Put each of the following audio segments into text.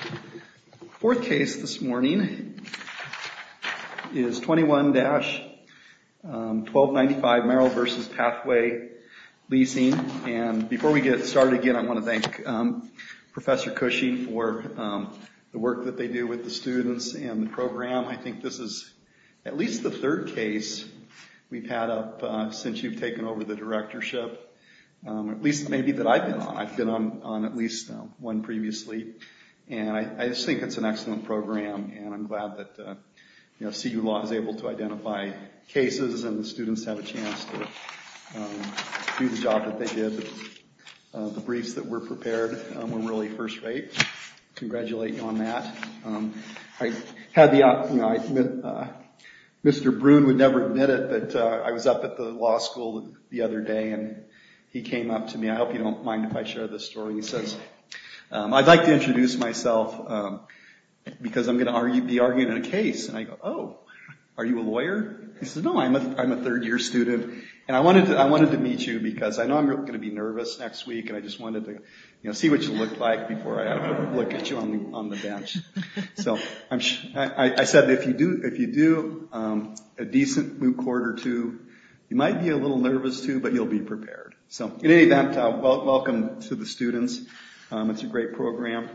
The fourth case this morning is 21-1295 Merrill v. Pathway Leasing and before we get started again I want to thank Professor Cushy for the work that they do with the students and the program. I think this is at least the third case we've had up since you've taken over the directorship, at least maybe that I've been on. I've been on at least one previously and I just think it's an excellent program and I'm glad that CU Law is able to identify cases and the students have a chance to do the job that they did. The briefs that were prepared were really first rate. I congratulate you on that. I had the opportunity, Mr. Bruin would never admit it, but I was up at the law school the other day and he came up to me. I hope you don't mind if I share this story. He says, I'd like to introduce myself because I'm going to be arguing a case. And I go, oh, are you a lawyer? He says, no, I'm a third year student and I wanted to meet you because I know I'm going to be nervous next week and I just wanted to see what you look like before I look at you on the bench. So I said, if you do a decent moot court or two, you might be a little nervous too, but you'll be prepared. So in any event, welcome to the students. It's a great program.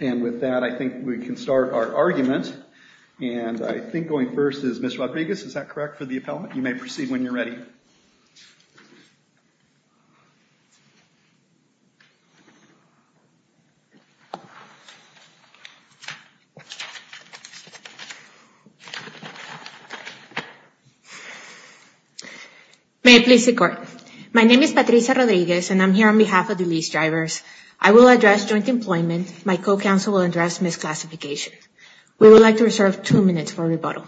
And with that, I think we can start our argument. And I think going first is Ms. Rodriguez, is that correct for the appellant? You may proceed when you're ready. May I please the court? My name is Patricia Rodriguez and I'm here on behalf of the lease drivers. I will address joint employment. My co-counsel will address misclassification. We would like to reserve two minutes for rebuttal.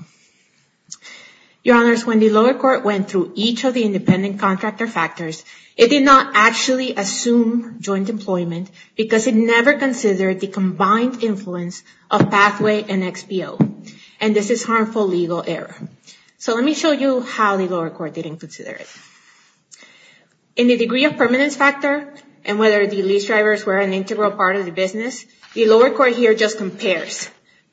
Your honors, when the lower court went through each of the independent contractor factors, it did not actually assume joint employment because it never considered the combined influence of Pathway and XPO. And this is harmful legal error. So let me show you how the lower court didn't consider it. In the degree of permanence factor and whether the lease drivers were an integral part of the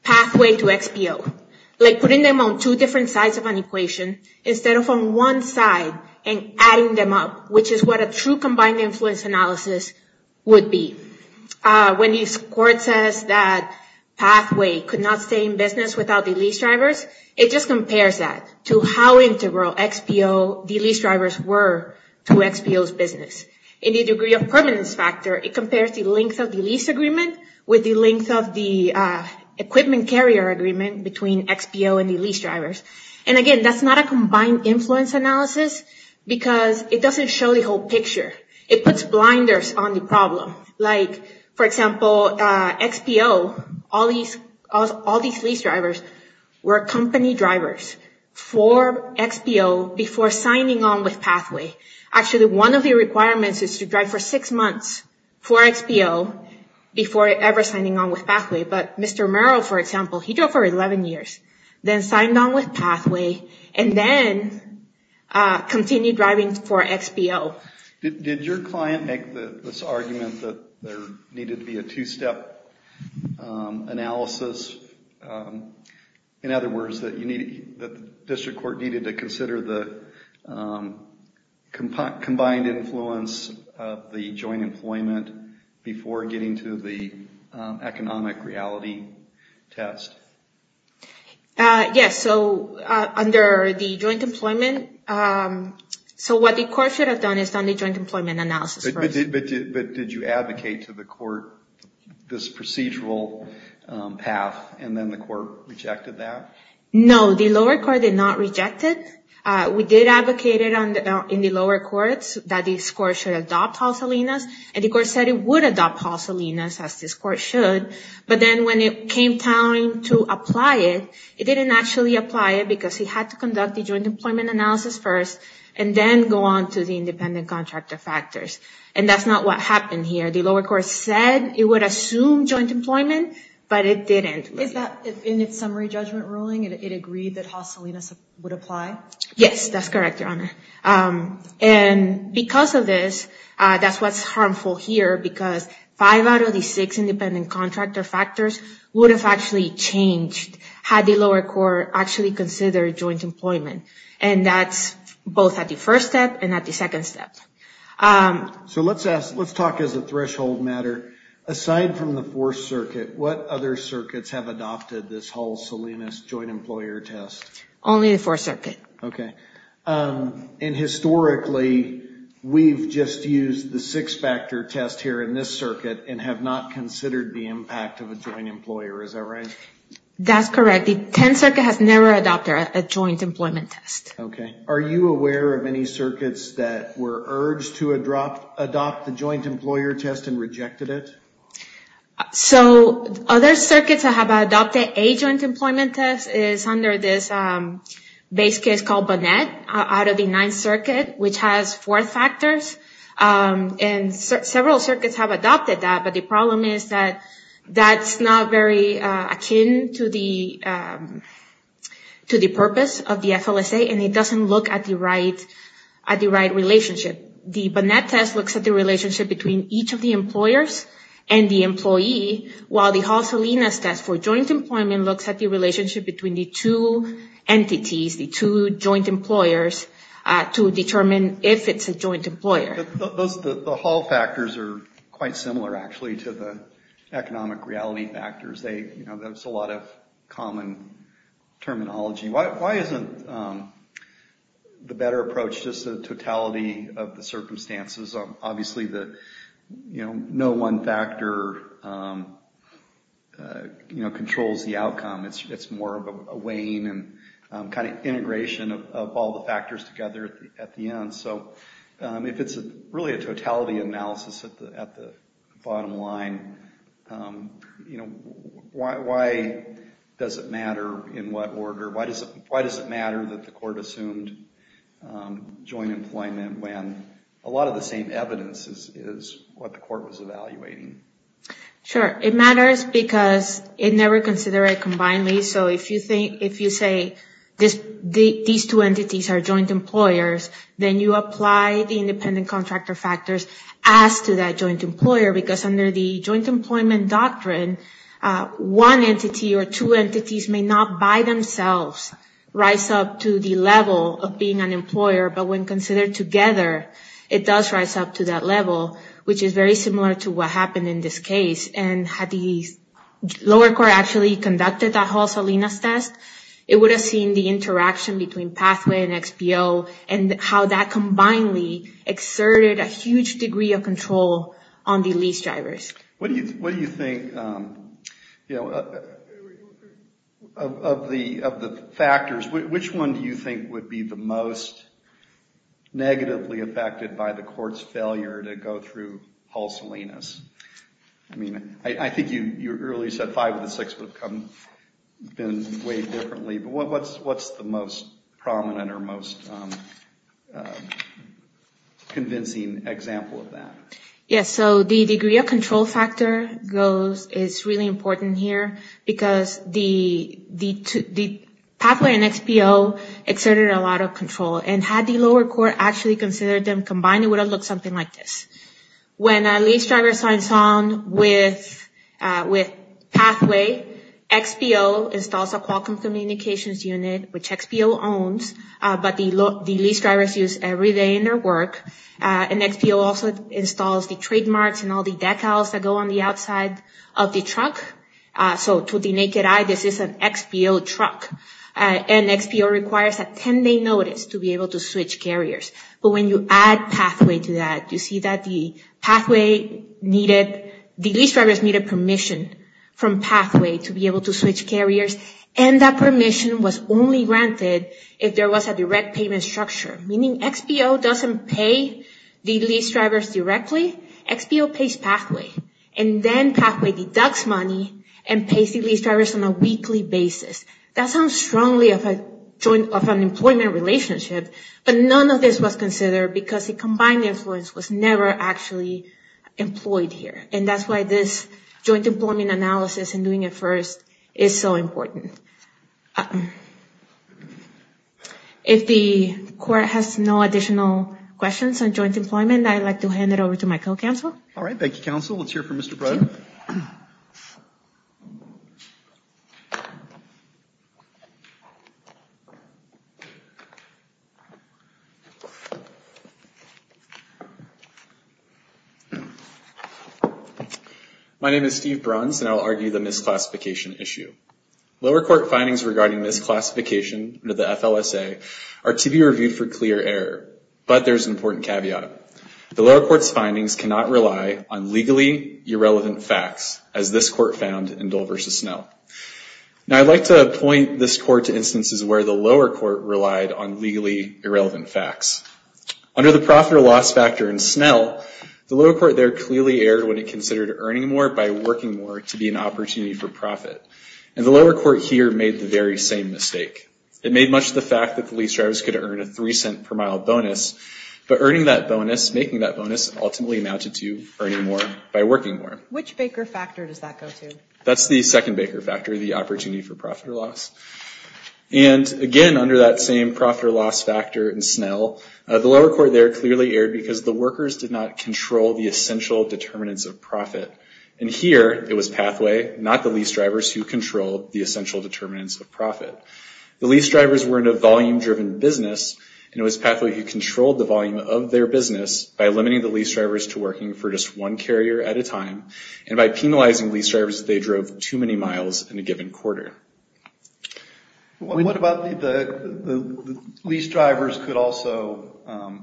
pathway to XPO, like putting them on two different sides of an equation instead of on one side and adding them up, which is what a true combined influence analysis would be. When this court says that Pathway could not stay in business without the lease drivers, it just compares that to how integral the lease drivers were to XPO's business. In the degree of permanence factor, it compares the length of the lease agreement with the length of the equipment carrier agreement between XPO and the lease drivers. And again, that's not a combined influence analysis because it doesn't show the whole picture. It puts blinders on the problem. Like, for example, XPO, all these lease drivers were company drivers for XPO before signing on with Pathway. Actually, one of the requirements is to drive for six months for XPO before ever signing on with Pathway. But Mr. Merrill, for example, he drove for 11 years, then signed on with Pathway, and then continued driving for XPO. Did your client make this argument that there needed to be a two-step analysis? In other words, that the district court needed to consider the combined influence of the joint employment before getting to the economic reality test. Yes, so under the joint employment, so what the court should have done is done the joint employment analysis first. But did you advocate to the court this procedural path, and then the court rejected that? No, the lower court did not reject it. We did advocate in the lower courts that this court should adopt HALS-ALENAS, and the court said it would adopt HALS-ALENAS, as this court should. But then when it came time to apply it, it didn't actually apply it because he had to conduct the joint employment analysis first, and then go on to the independent contractor factors. And that's not what happened here. The lower court said it would assume joint employment, but it didn't. Is that in its summary judgment ruling, it agreed that HALS-ALENAS would apply? Yes, that's correct, Your Honor. And because of this, that's what's harmful here because five out of the six independent contractor factors would have actually changed had the lower court actually considered joint employment. And that's both at the first step and at the second step. So let's talk as a threshold matter. Aside from the Fourth Circuit, what other circuits have adopted this HALS-ALENAS joint employer test? Only the Fourth Circuit. Okay. And historically, we've just used the six-factor test here in this circuit and have not considered the impact of a joint employer. Is that right? That's correct. The Tenth Circuit has never adopted a joint employment test. Okay. Are you aware of any to adopt the joint employer test and rejected it? So other circuits that have adopted a joint employment test is under this base case called Bonnet out of the Ninth Circuit, which has four factors. And several circuits have adopted that, but the problem is that that's not very akin to the purpose of the FLSA, and it doesn't look at the right relationship. The Bonnet test looks at the relationship between each of the employers and the employee, while the HALS-ALENAS test for joint employment looks at the relationship between the two entities, the two joint employers, to determine if it's a joint employer. The HALS factors are quite similar, actually, to the economic reality factors. There's a lot of common terminology. Why isn't the better approach just the totality of the circumstances? Obviously, no one factor controls the outcome. It's more of a weighing and kind of integration of all the factors together at the end. So if it's really a totality analysis at the bottom line, you know, why does it matter in what order? Why does it matter that the court assumed joint employment when a lot of the same evidence is what the court was evaluating? Sure. It matters because it never considered a combined lease. So if you think, if you say these two entities are joint employers, then you apply the independent contractor factors as to that joint employer, because under the joint employment doctrine, one entity or two entities may not by themselves rise up to the level of being an employer. But when considered together, it does rise up to that level, which is very similar to what happened in this case. And had the lower court actually conducted that HALS-ALENAS test, it would have seen the interaction between pathway and XPO and how that combinedly exerted a huge degree of control on the lease drivers. What do you think, you know, of the factors, which one do you think would be the most negatively affected by the court's failure to go through HALS-ALENAS? I mean, I think you earlier said five of the six would have been weighed differently, but what's the most prominent or most convincing example of that? Yes, so the degree of control factor goes, is really important here because the pathway and XPO exerted a lot of control. And had the lower court actually considered them combined, it would have looked something like this. When a lease driver signs on with pathway, XPO installs a Qualcomm communications unit, which XPO owns, but the lease drivers use every day in their work. And XPO also installs the trademarks and all the decals that go on the outside of the truck. So to the naked eye, this is an XPO truck. And XPO requires a 10-day notice to be able to switch carriers. But when you add pathway to that, you see that the lease drivers needed permission from pathway to be able to switch carriers. And that permission was only granted if there was a direct payment structure, meaning XPO doesn't pay the lease drivers directly, XPO pays pathway. And then pathway deducts money and pays the lease drivers on a weekly basis. That sounds strongly of an employment relationship, but none of this was considered because the combined influence was never actually employed here. And that's why this joint employment analysis and doing it first is so important. If the court has no additional questions on joint employment, I'd like to hand it over to my co-counsel. All right. Thank you, counsel. Let's hear from Mr. Bruns. My name is Steve Bruns, and I'll argue the misclassification issue. Lower court findings regarding misclassification under the FLSA are to be reviewed for clear error, but there's an important caveat. The lower court's findings cannot rely on legally irrelevant facts, as this court found in Dole v. Snell. Now I'd like to point this court to instances where the lower court relied on legally irrelevant facts. Under the profit or loss factor in Snell, the lower court there clearly erred when it considered earning more by working more to be an opportunity for profit. And the lower court here made the very same mistake. It made much of the fact that the lease drivers could earn a three cent per mile bonus, but earning that bonus, making that bonus, ultimately amounted to that's the second baker factor, the opportunity for profit or loss. And again, under that same profit or loss factor in Snell, the lower court there clearly erred because the workers did not control the essential determinants of profit. And here, it was Pathway, not the lease drivers, who controlled the essential determinants of profit. The lease drivers were in a volume-driven business, and it was Pathway who controlled the volume of their business by limiting the lease drivers to working for just one carrier at a time, and by penalizing lease drivers, they drove too many miles in a given quarter. What about the lease drivers could also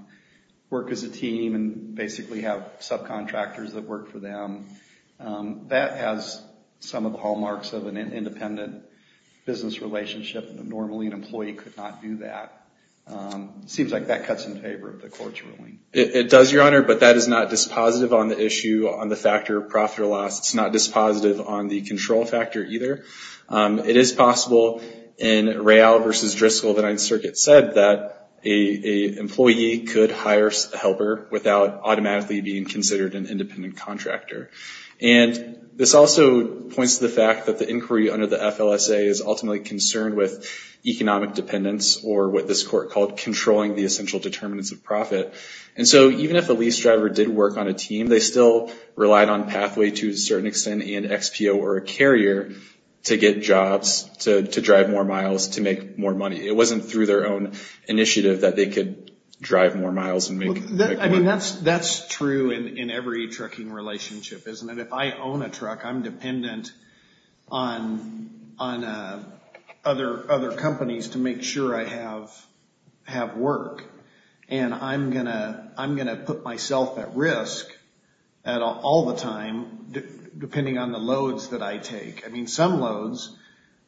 work as a team and basically have subcontractors that work for them? That has some of the hallmarks of an independent business relationship. Normally, an employee could not do that. Seems like that cuts in favor of the court's ruling. It does, Your Honor, but that is not dispositive on the issue on the factor of profit or loss. It's not dispositive on the control factor either. It is possible in Real versus Driscoll that 9th Circuit said that an employee could hire a helper without automatically being considered an independent contractor. And this also points to the fact that the inquiry under the FLSA is ultimately concerned with controlling the essential determinants of profit. And so even if a lease driver did work on a team, they still relied on Pathway to a certain extent and XPO or a carrier to get jobs, to drive more miles, to make more money. It wasn't through their own initiative that they could drive more miles. That's true in every trucking relationship, isn't it? If I own a truck, I'm dependent on other companies to make sure I have work. And I'm going to put myself at risk all the time depending on the loads that I take. I mean, some loads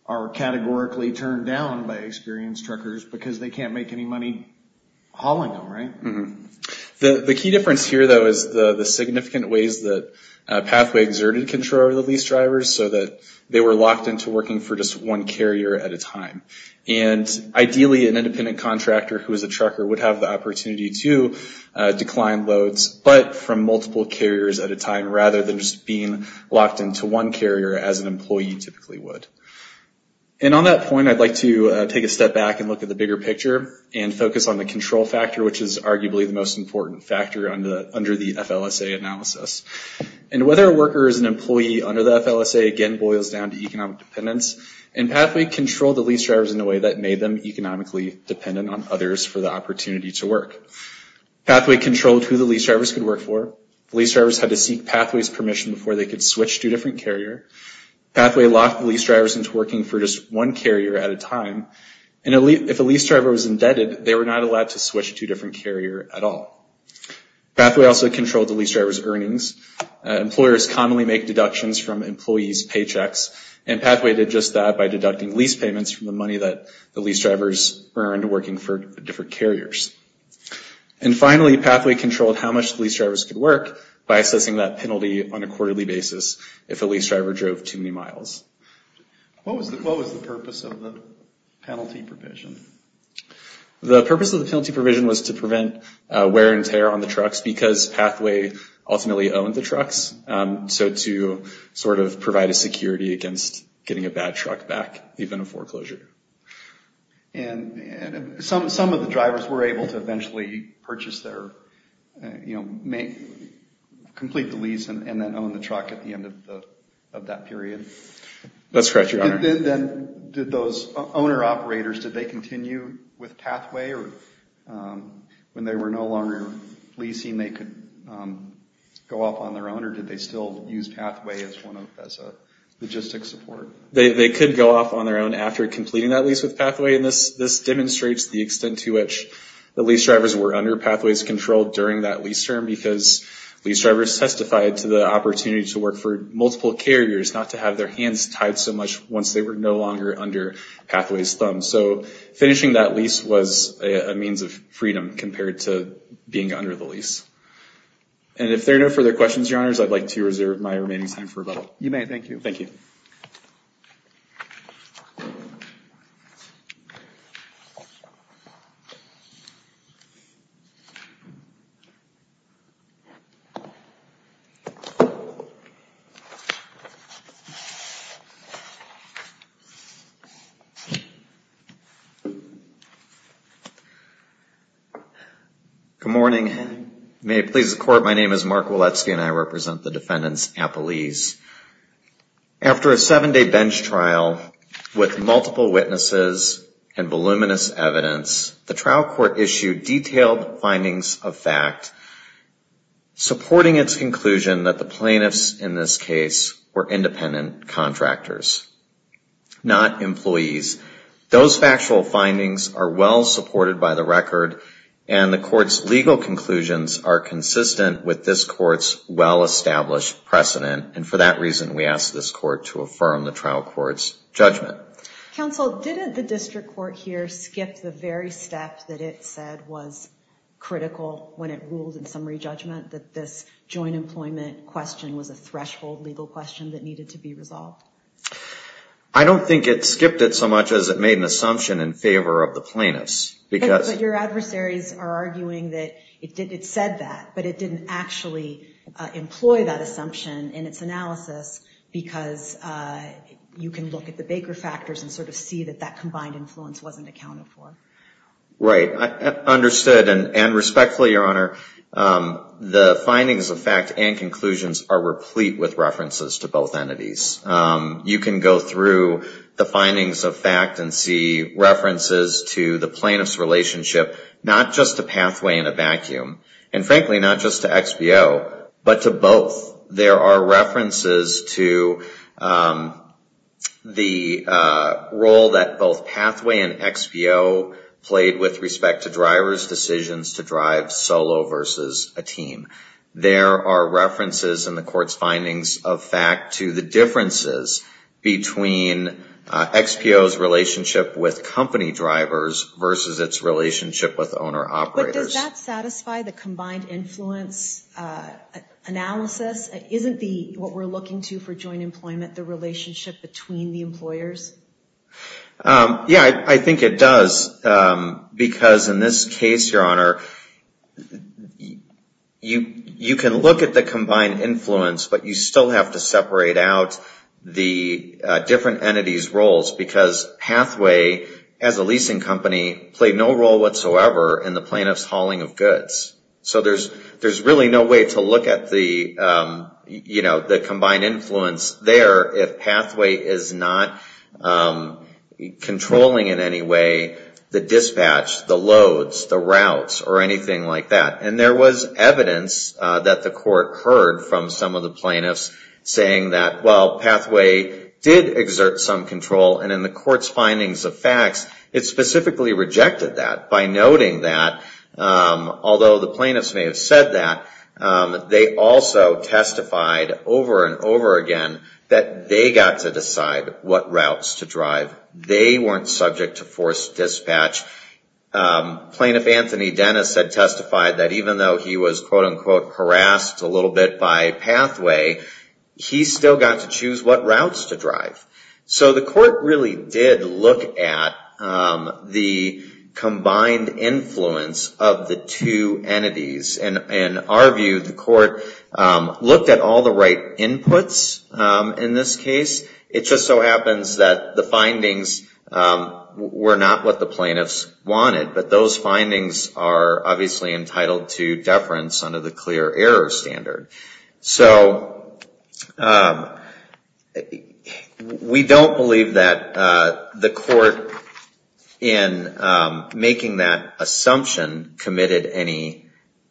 are categorically turned down by experienced truckers because they can't make any money hauling them, right? The key difference here, though, is the significant ways that Pathway exerted control over the lease drivers so that they were locked into working for just one carrier at a time. And ideally, an independent contractor who is a trucker would have the opportunity to decline loads, but from multiple carriers at a time rather than just being locked into one carrier as an employee typically would. And on that point, I'd like to take a step back and look at the bigger picture and focus on the control factor, which is arguably the most under the FLSA, again boils down to economic dependence. And Pathway controlled the lease drivers in a way that made them economically dependent on others for the opportunity to work. Pathway controlled who the lease drivers could work for. Lease drivers had to seek Pathway's permission before they could switch to a different carrier. Pathway locked the lease drivers into working for just one carrier at a time. And if a lease driver was indebted, they were not allowed to switch to a different carrier at all. Pathway also controlled the deductions from employees' paychecks. And Pathway did just that by deducting lease payments from the money that the lease drivers earned working for different carriers. And finally, Pathway controlled how much lease drivers could work by assessing that penalty on a quarterly basis if a lease driver drove too many miles. What was the purpose of the penalty provision? The purpose of the penalty provision was to prevent wear and tear on the trucks because Pathway ultimately owned the trucks. So to sort of provide a security against getting a bad truck back even in foreclosure. And some of the drivers were able to eventually purchase their, you know, complete the lease and then own the truck at the end of that period. That's correct, Your Honor. Then did those owner-operators, did they continue with Pathway? Or when they were no longer leasing, they could go off on their own? Or did they still use Pathway as a logistic support? They could go off on their own after completing that lease with Pathway. And this demonstrates the extent to which the lease drivers were under Pathway's control during that lease term because lease drivers testified to the opportunity to work for multiple carriers, not to have their hands tied so much once they were no longer under Pathway's control. So that lease was a means of freedom compared to being under the lease. And if there are no further questions, Your Honors, I'd like to reserve my remaining time for rebuttal. You may, thank you. Thank you. Good morning. May it please the Court, my name is Mark Woletzky and I represent the defendants at the lease. After a seven-day bench trial with multiple witnesses and voluminous evidence, the trial court issued detailed findings of fact supporting its conclusion that the plaintiffs in this case were independent contractors, not employees. Those factual findings are well supported by the record and the Court's legal conclusions are consistent with this Court's well-established precedent. And for that reason, we ask this Court to affirm the trial court's judgment. Counsel, did the district court here skip the very step that it said was critical when it ruled in summary judgment that this joint employment question was a threshold legal question that needed to be resolved? I don't think it skipped it so much as it made an assumption in favor of the plaintiffs. But your adversaries are arguing that it said that, but it didn't actually employ that assumption in its analysis because you can look at the Baker factors and sort of see that that combined influence wasn't accounted for. Right, understood. And respectfully, Your Honor, the findings of fact and conclusions are replete with references to both entities. You can go through the findings of fact and see references to the plaintiff's relationship, not just to Pathway and a Vacuum, and frankly, not just to XBO, but to both. There are references to the role that both Pathway and XBO played with respect to driver's decisions to drive solo versus a team. There are references in the Court's findings of fact to the differences between XBO's relationship with company drivers versus its relationship with owner-operators. But does that satisfy the combined influence analysis? Isn't what we're looking to for joint employment the relationship between the employers? Yeah, I think it does because in this case, Your Honor, you can look at the combined influence, but you still have to separate out the different entities' roles because Pathway, as a leasing company, played no role whatsoever in the plaintiff's hauling of goods. So there's really no way to look at the combined influence there if Pathway is not controlling in any way the dispatch, the loads, the routes, or anything like that. And there was evidence that the Court heard from some of the plaintiffs saying that, well, Pathway did exert some control, and in the Court's findings of facts, it specifically rejected that by noting that, although the plaintiffs may have said that, they also testified over and over again that they got to decide what routes to drive. They weren't subject to forced dispatch. Plaintiff Anthony Dennis had testified that even though he was, quote-unquote, harassed a little bit by Pathway, he still got to choose what routes to the combined influence of the two entities. And in our view, the Court looked at all the right inputs in this case. It just so happens that the findings were not what the plaintiffs wanted, but those findings are obviously entitled to deference under the clear error standard. So we don't believe that the Court in making that assumption committed any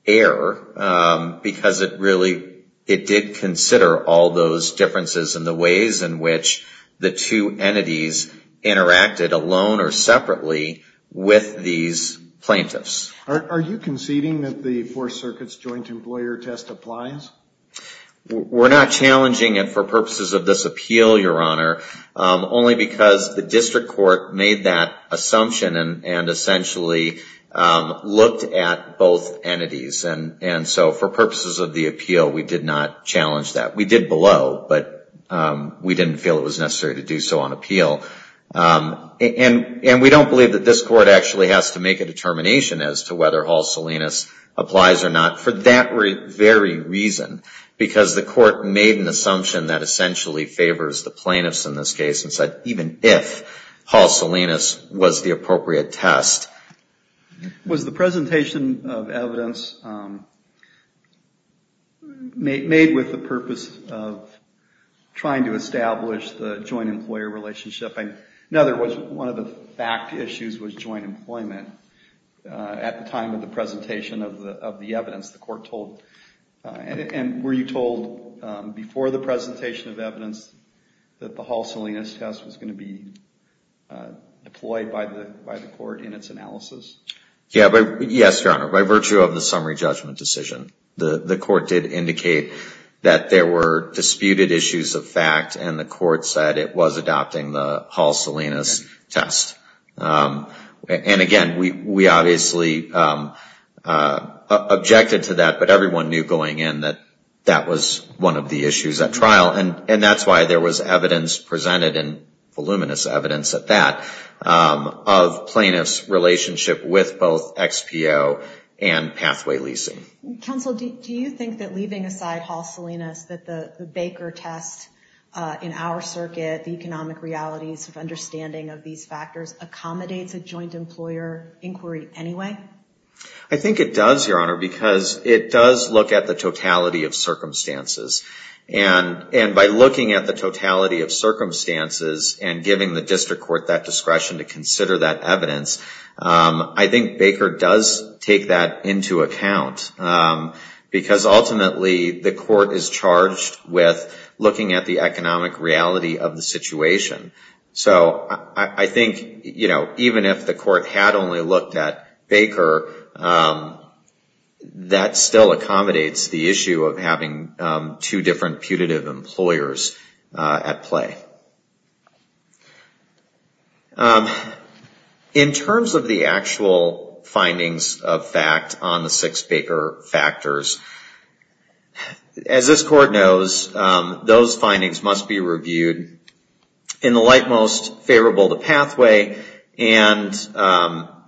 error, because it really, it did consider all those differences in the ways in which the two entities interacted alone or separately with these plaintiffs. Are you conceding that the Fourth Circuit's joint employer test applies? We're not challenging it for purposes of this appeal, Your Honor, only because the District Court made that assumption and essentially looked at both entities. And so for purposes of the appeal, we did not challenge that. We did below, but we didn't feel it was necessary to do so on appeal. And we don't believe that this Court actually has to make a determination as to whether Hal Salinas applies or not for that very reason, because the Court made an assumption that essentially favors the plaintiffs in this case and said even if Hal Salinas was the appropriate test. Was the presentation of evidence made with the purpose of trying to establish the joint employer relationship? In other words, one of the fact issues was joint employment at the time of the presentation of the evidence the Court told. And were you told before the presentation of evidence that the Hal Salinas test was going to be deployed by the Court in its analysis? Yes, Your Honor, by virtue of the summary judgment decision. The Court did indicate that there were disputed issues of fact and the test. And again, we obviously objected to that, but everyone knew going in that that was one of the issues at trial. And that's why there was evidence presented and voluminous evidence at that of plaintiffs' relationship with both XPO and pathway leasing. Counsel, do you think that leaving aside Hal Salinas, that the Baker test in our circuit, the economic realities of understanding of these factors accommodates a joint employer inquiry anyway? I think it does, Your Honor, because it does look at the totality of circumstances. And by looking at the totality of circumstances and giving the District Court that discretion to consider that evidence, I think Baker does take that into account. Because ultimately, the Court is charged with looking at the economic reality of the situation. So I think, you know, even if the Court had only looked at Baker, that still accommodates the issue of having two different putative employers at play. In terms of the actual findings of fact on the six Baker factors, as this Court knows, those findings must be reviewed in the likemost favorable to pathway, and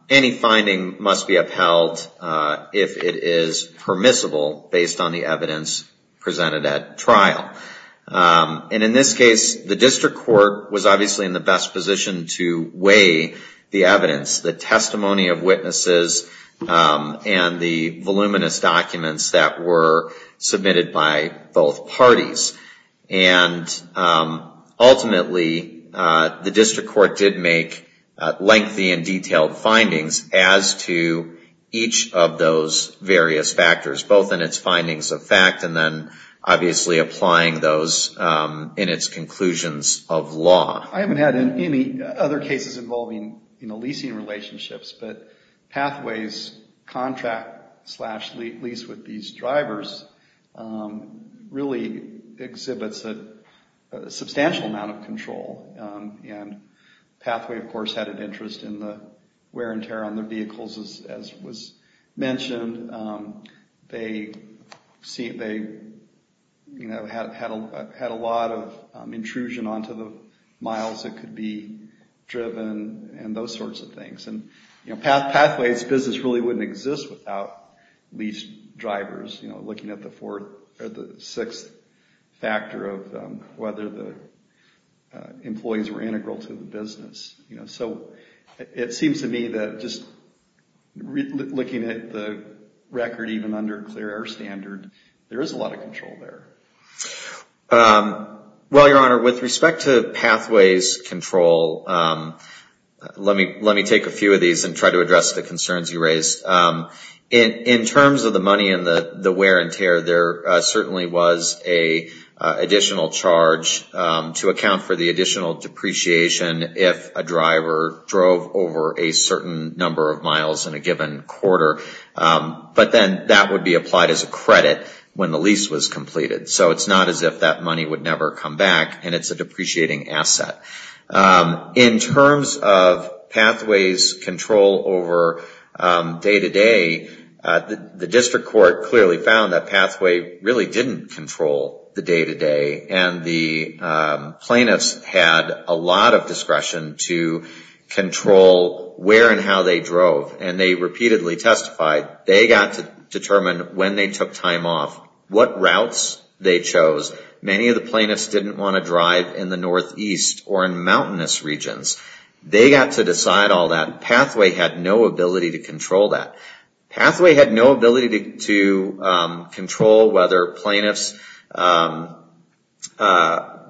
any finding must be upheld if it is permissible based on the evidence presented at trial. And in this case, the District Court was obviously in the best position to weigh the evidence, the testimony of witnesses, and the voluminous documents that were submitted by both parties. And ultimately, the District Court did make lengthy and detailed findings as to each of those various factors, both in its findings of fact and then obviously applying those in its conclusions of law. I haven't had any other cases involving, you know, leasing relationships, but Pathways' contract slash lease with these drivers really exhibits a substantial amount of control. And Pathway, of course, had an interest in the wear and tear on their vehicles, as was mentioned. They, you know, had a lot of intrusion onto the miles that could be driven and those sorts of things. And, you know, Pathways' business really wouldn't exist without lease drivers, you know, looking at the fourth or the sixth factor of whether the employees were integral to the business. So it seems to me that just looking at the record, even under clear air standard, there is a lot of control there. Well, Your Honor, with respect to Pathways' control, let me take a few of these and try to address the concerns you raised. In terms of the money and the wear and tear, there certainly was an additional charge to drove over a certain number of miles in a given quarter, but then that would be applied as a credit when the lease was completed. So it's not as if that money would never come back, and it's a depreciating asset. In terms of Pathways' control over day-to-day, the District Court clearly found that Pathway really didn't control the day-to-day, and the control where and how they drove. And they repeatedly testified they got to determine when they took time off, what routes they chose. Many of the plaintiffs didn't want to drive in the northeast or in mountainous regions. They got to decide all that. Pathway had no ability to control that. Pathway had no ability to control whether plaintiffs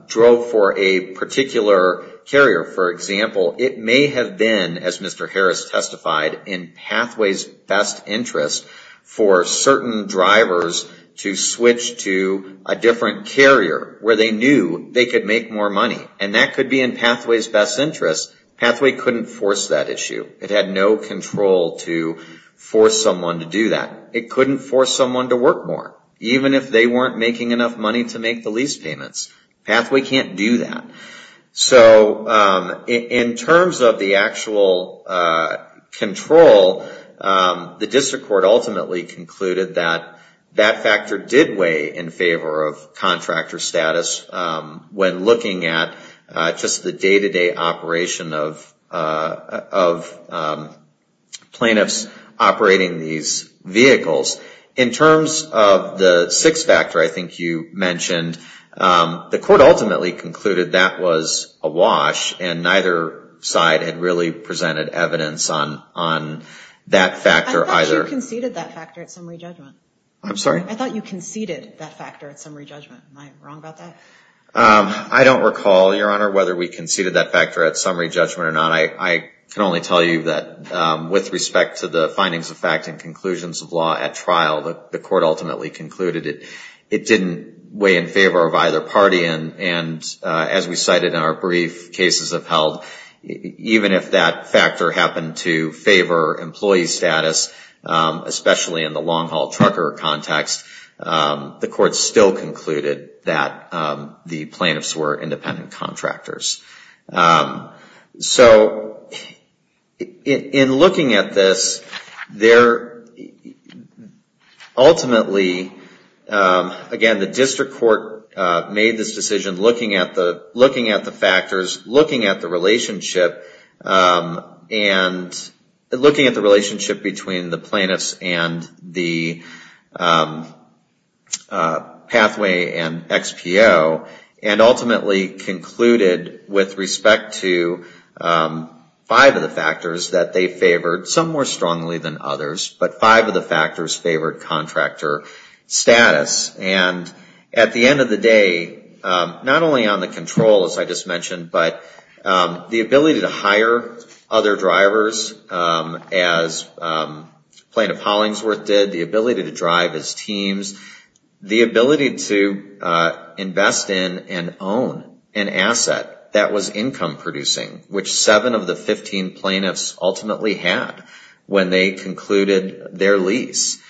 drove for a particular carrier. For example, it may have been, as Mr. Harris testified, in Pathways' best interest for certain drivers to switch to a different carrier where they knew they could make more money. And that could be in Pathways' best interest. Pathway couldn't force that issue. It had no control to force someone to do that. It couldn't force someone to work more, even if they weren't making enough money to make the lease payments. Pathway can't do that. So, in terms of the actual control, the District Court ultimately concluded that that factor did weigh in favor of contractor status when looking at just the day-to-day operation of plaintiffs operating these vehicles. In terms of the sixth factor, I think you mentioned, the Court ultimately concluded that was a wash and neither side had really presented evidence on that factor either. I thought you conceded that factor at summary judgment. I'm sorry? I thought you conceded that factor at summary judgment. Am I wrong about that? I don't recall, Your Honor, whether we conceded that factor at summary judgment or not. I can only tell you that with respect to the findings of fact and conclusions of law at trial, the Court ultimately concluded it didn't weigh in favor of either party. As we cited in our brief cases of held, even if that factor happened to favor employee status, especially in the long-haul trucker context, the Court still concluded that the plaintiffs were independent contractors. So, in looking at this, ultimately, again, the District Court made this decision looking at the factors, looking at the relationship, and looking at the relationship between the plaintiffs and the plaintiffs. The District Court concluded with respect to five of the factors that they favored, some more strongly than others, but five of the factors favored contractor status. At the end of the day, not only on the control, as I just mentioned, but the ability to hire other drivers as Plaintiff Hollingsworth did, the ability to drive as teams, the ability to income-producing, which seven of the 15 plaintiffs ultimately had when they concluded their lease,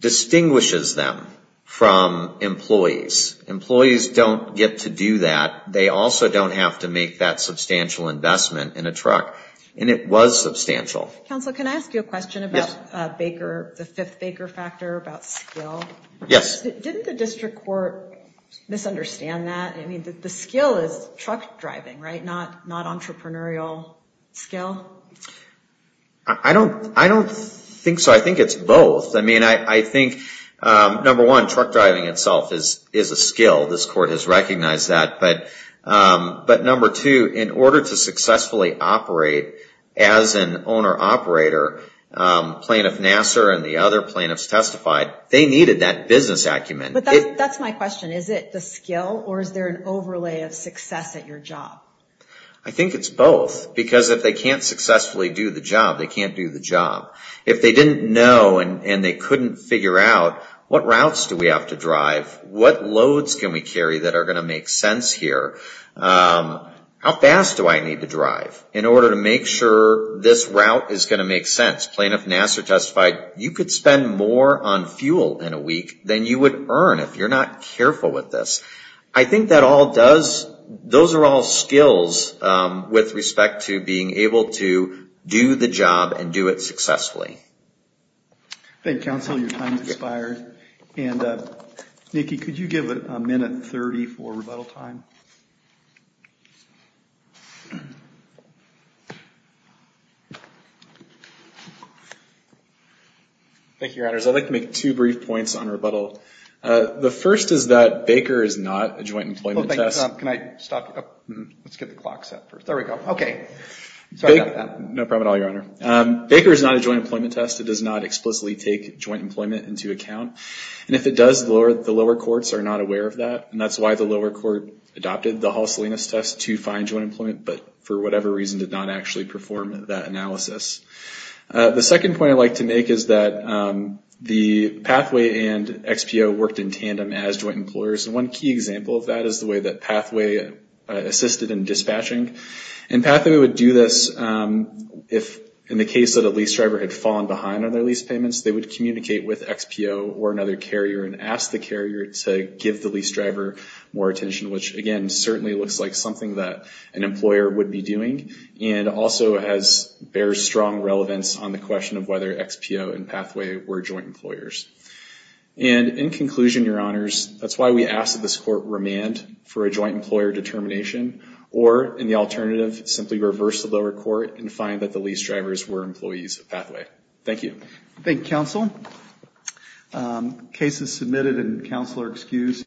distinguishes them from employees. Employees don't get to do that. They also don't have to make that substantial investment in a truck, and it was substantial. Counsel, can I ask you a question about Baker, the fifth Baker factor, about skill? Yes. Didn't the District Court misunderstand that? I mean, the skill is truck driving, right? Not entrepreneurial skill? I don't think so. I think it's both. I mean, I think, number one, truck driving itself is a skill. This Court has recognized that. But number two, in order to successfully operate as an owner-operator, Plaintiff Nassar and the other That's my question. Is it the skill, or is there an overlay of success at your job? I think it's both, because if they can't successfully do the job, they can't do the job. If they didn't know and they couldn't figure out what routes do we have to drive, what loads can we carry that are going to make sense here, how fast do I need to drive in order to make sure this route is going to make sense? Plaintiff Nassar testified you could spend more on fuel in a week than you would earn if you're not careful with this. I think that all does, those are all skills with respect to being able to do the job and do it successfully. Thank you, counsel. Your time has expired. And Nikki, could you give a minute 30 for rebuttal time? Thank you, Your Honors. I'd like to make two brief points on rebuttal. The first is that Baker is not a joint employment test. Can I stop you? Let's get the clock set first. There we go. Okay. No problem at all, Your Honor. Baker is not a joint employment test. It does not explicitly take joint employment into account. And if it does, the lower courts are not aware of that. And that's why the lower court adopted the Hall-Salinas test to find joint employment, but for whatever reason did not actually perform that analysis. The second point I'd like to make is that the Pathway and XPO worked in tandem as joint employers. And one key example of that is the way that Pathway assisted in dispatching. And Pathway would do this if, in the case that a lease driver had fallen behind on their lease payments, they would communicate with XPO or another carrier and ask the carrier to give the lease driver more attention, which, again, certainly looks like something that an employer would be doing and also bears strong relevance on the question of whether XPO and Pathway were joint employers. And in conclusion, Your Honors, that's why we ask that this court remand for a joint employer determination or, in the alternative, simply reverse the lower court and find that the lease drivers were employees of Pathway. Thank you. Thank you, counsel. Cases submitted and counselor excused.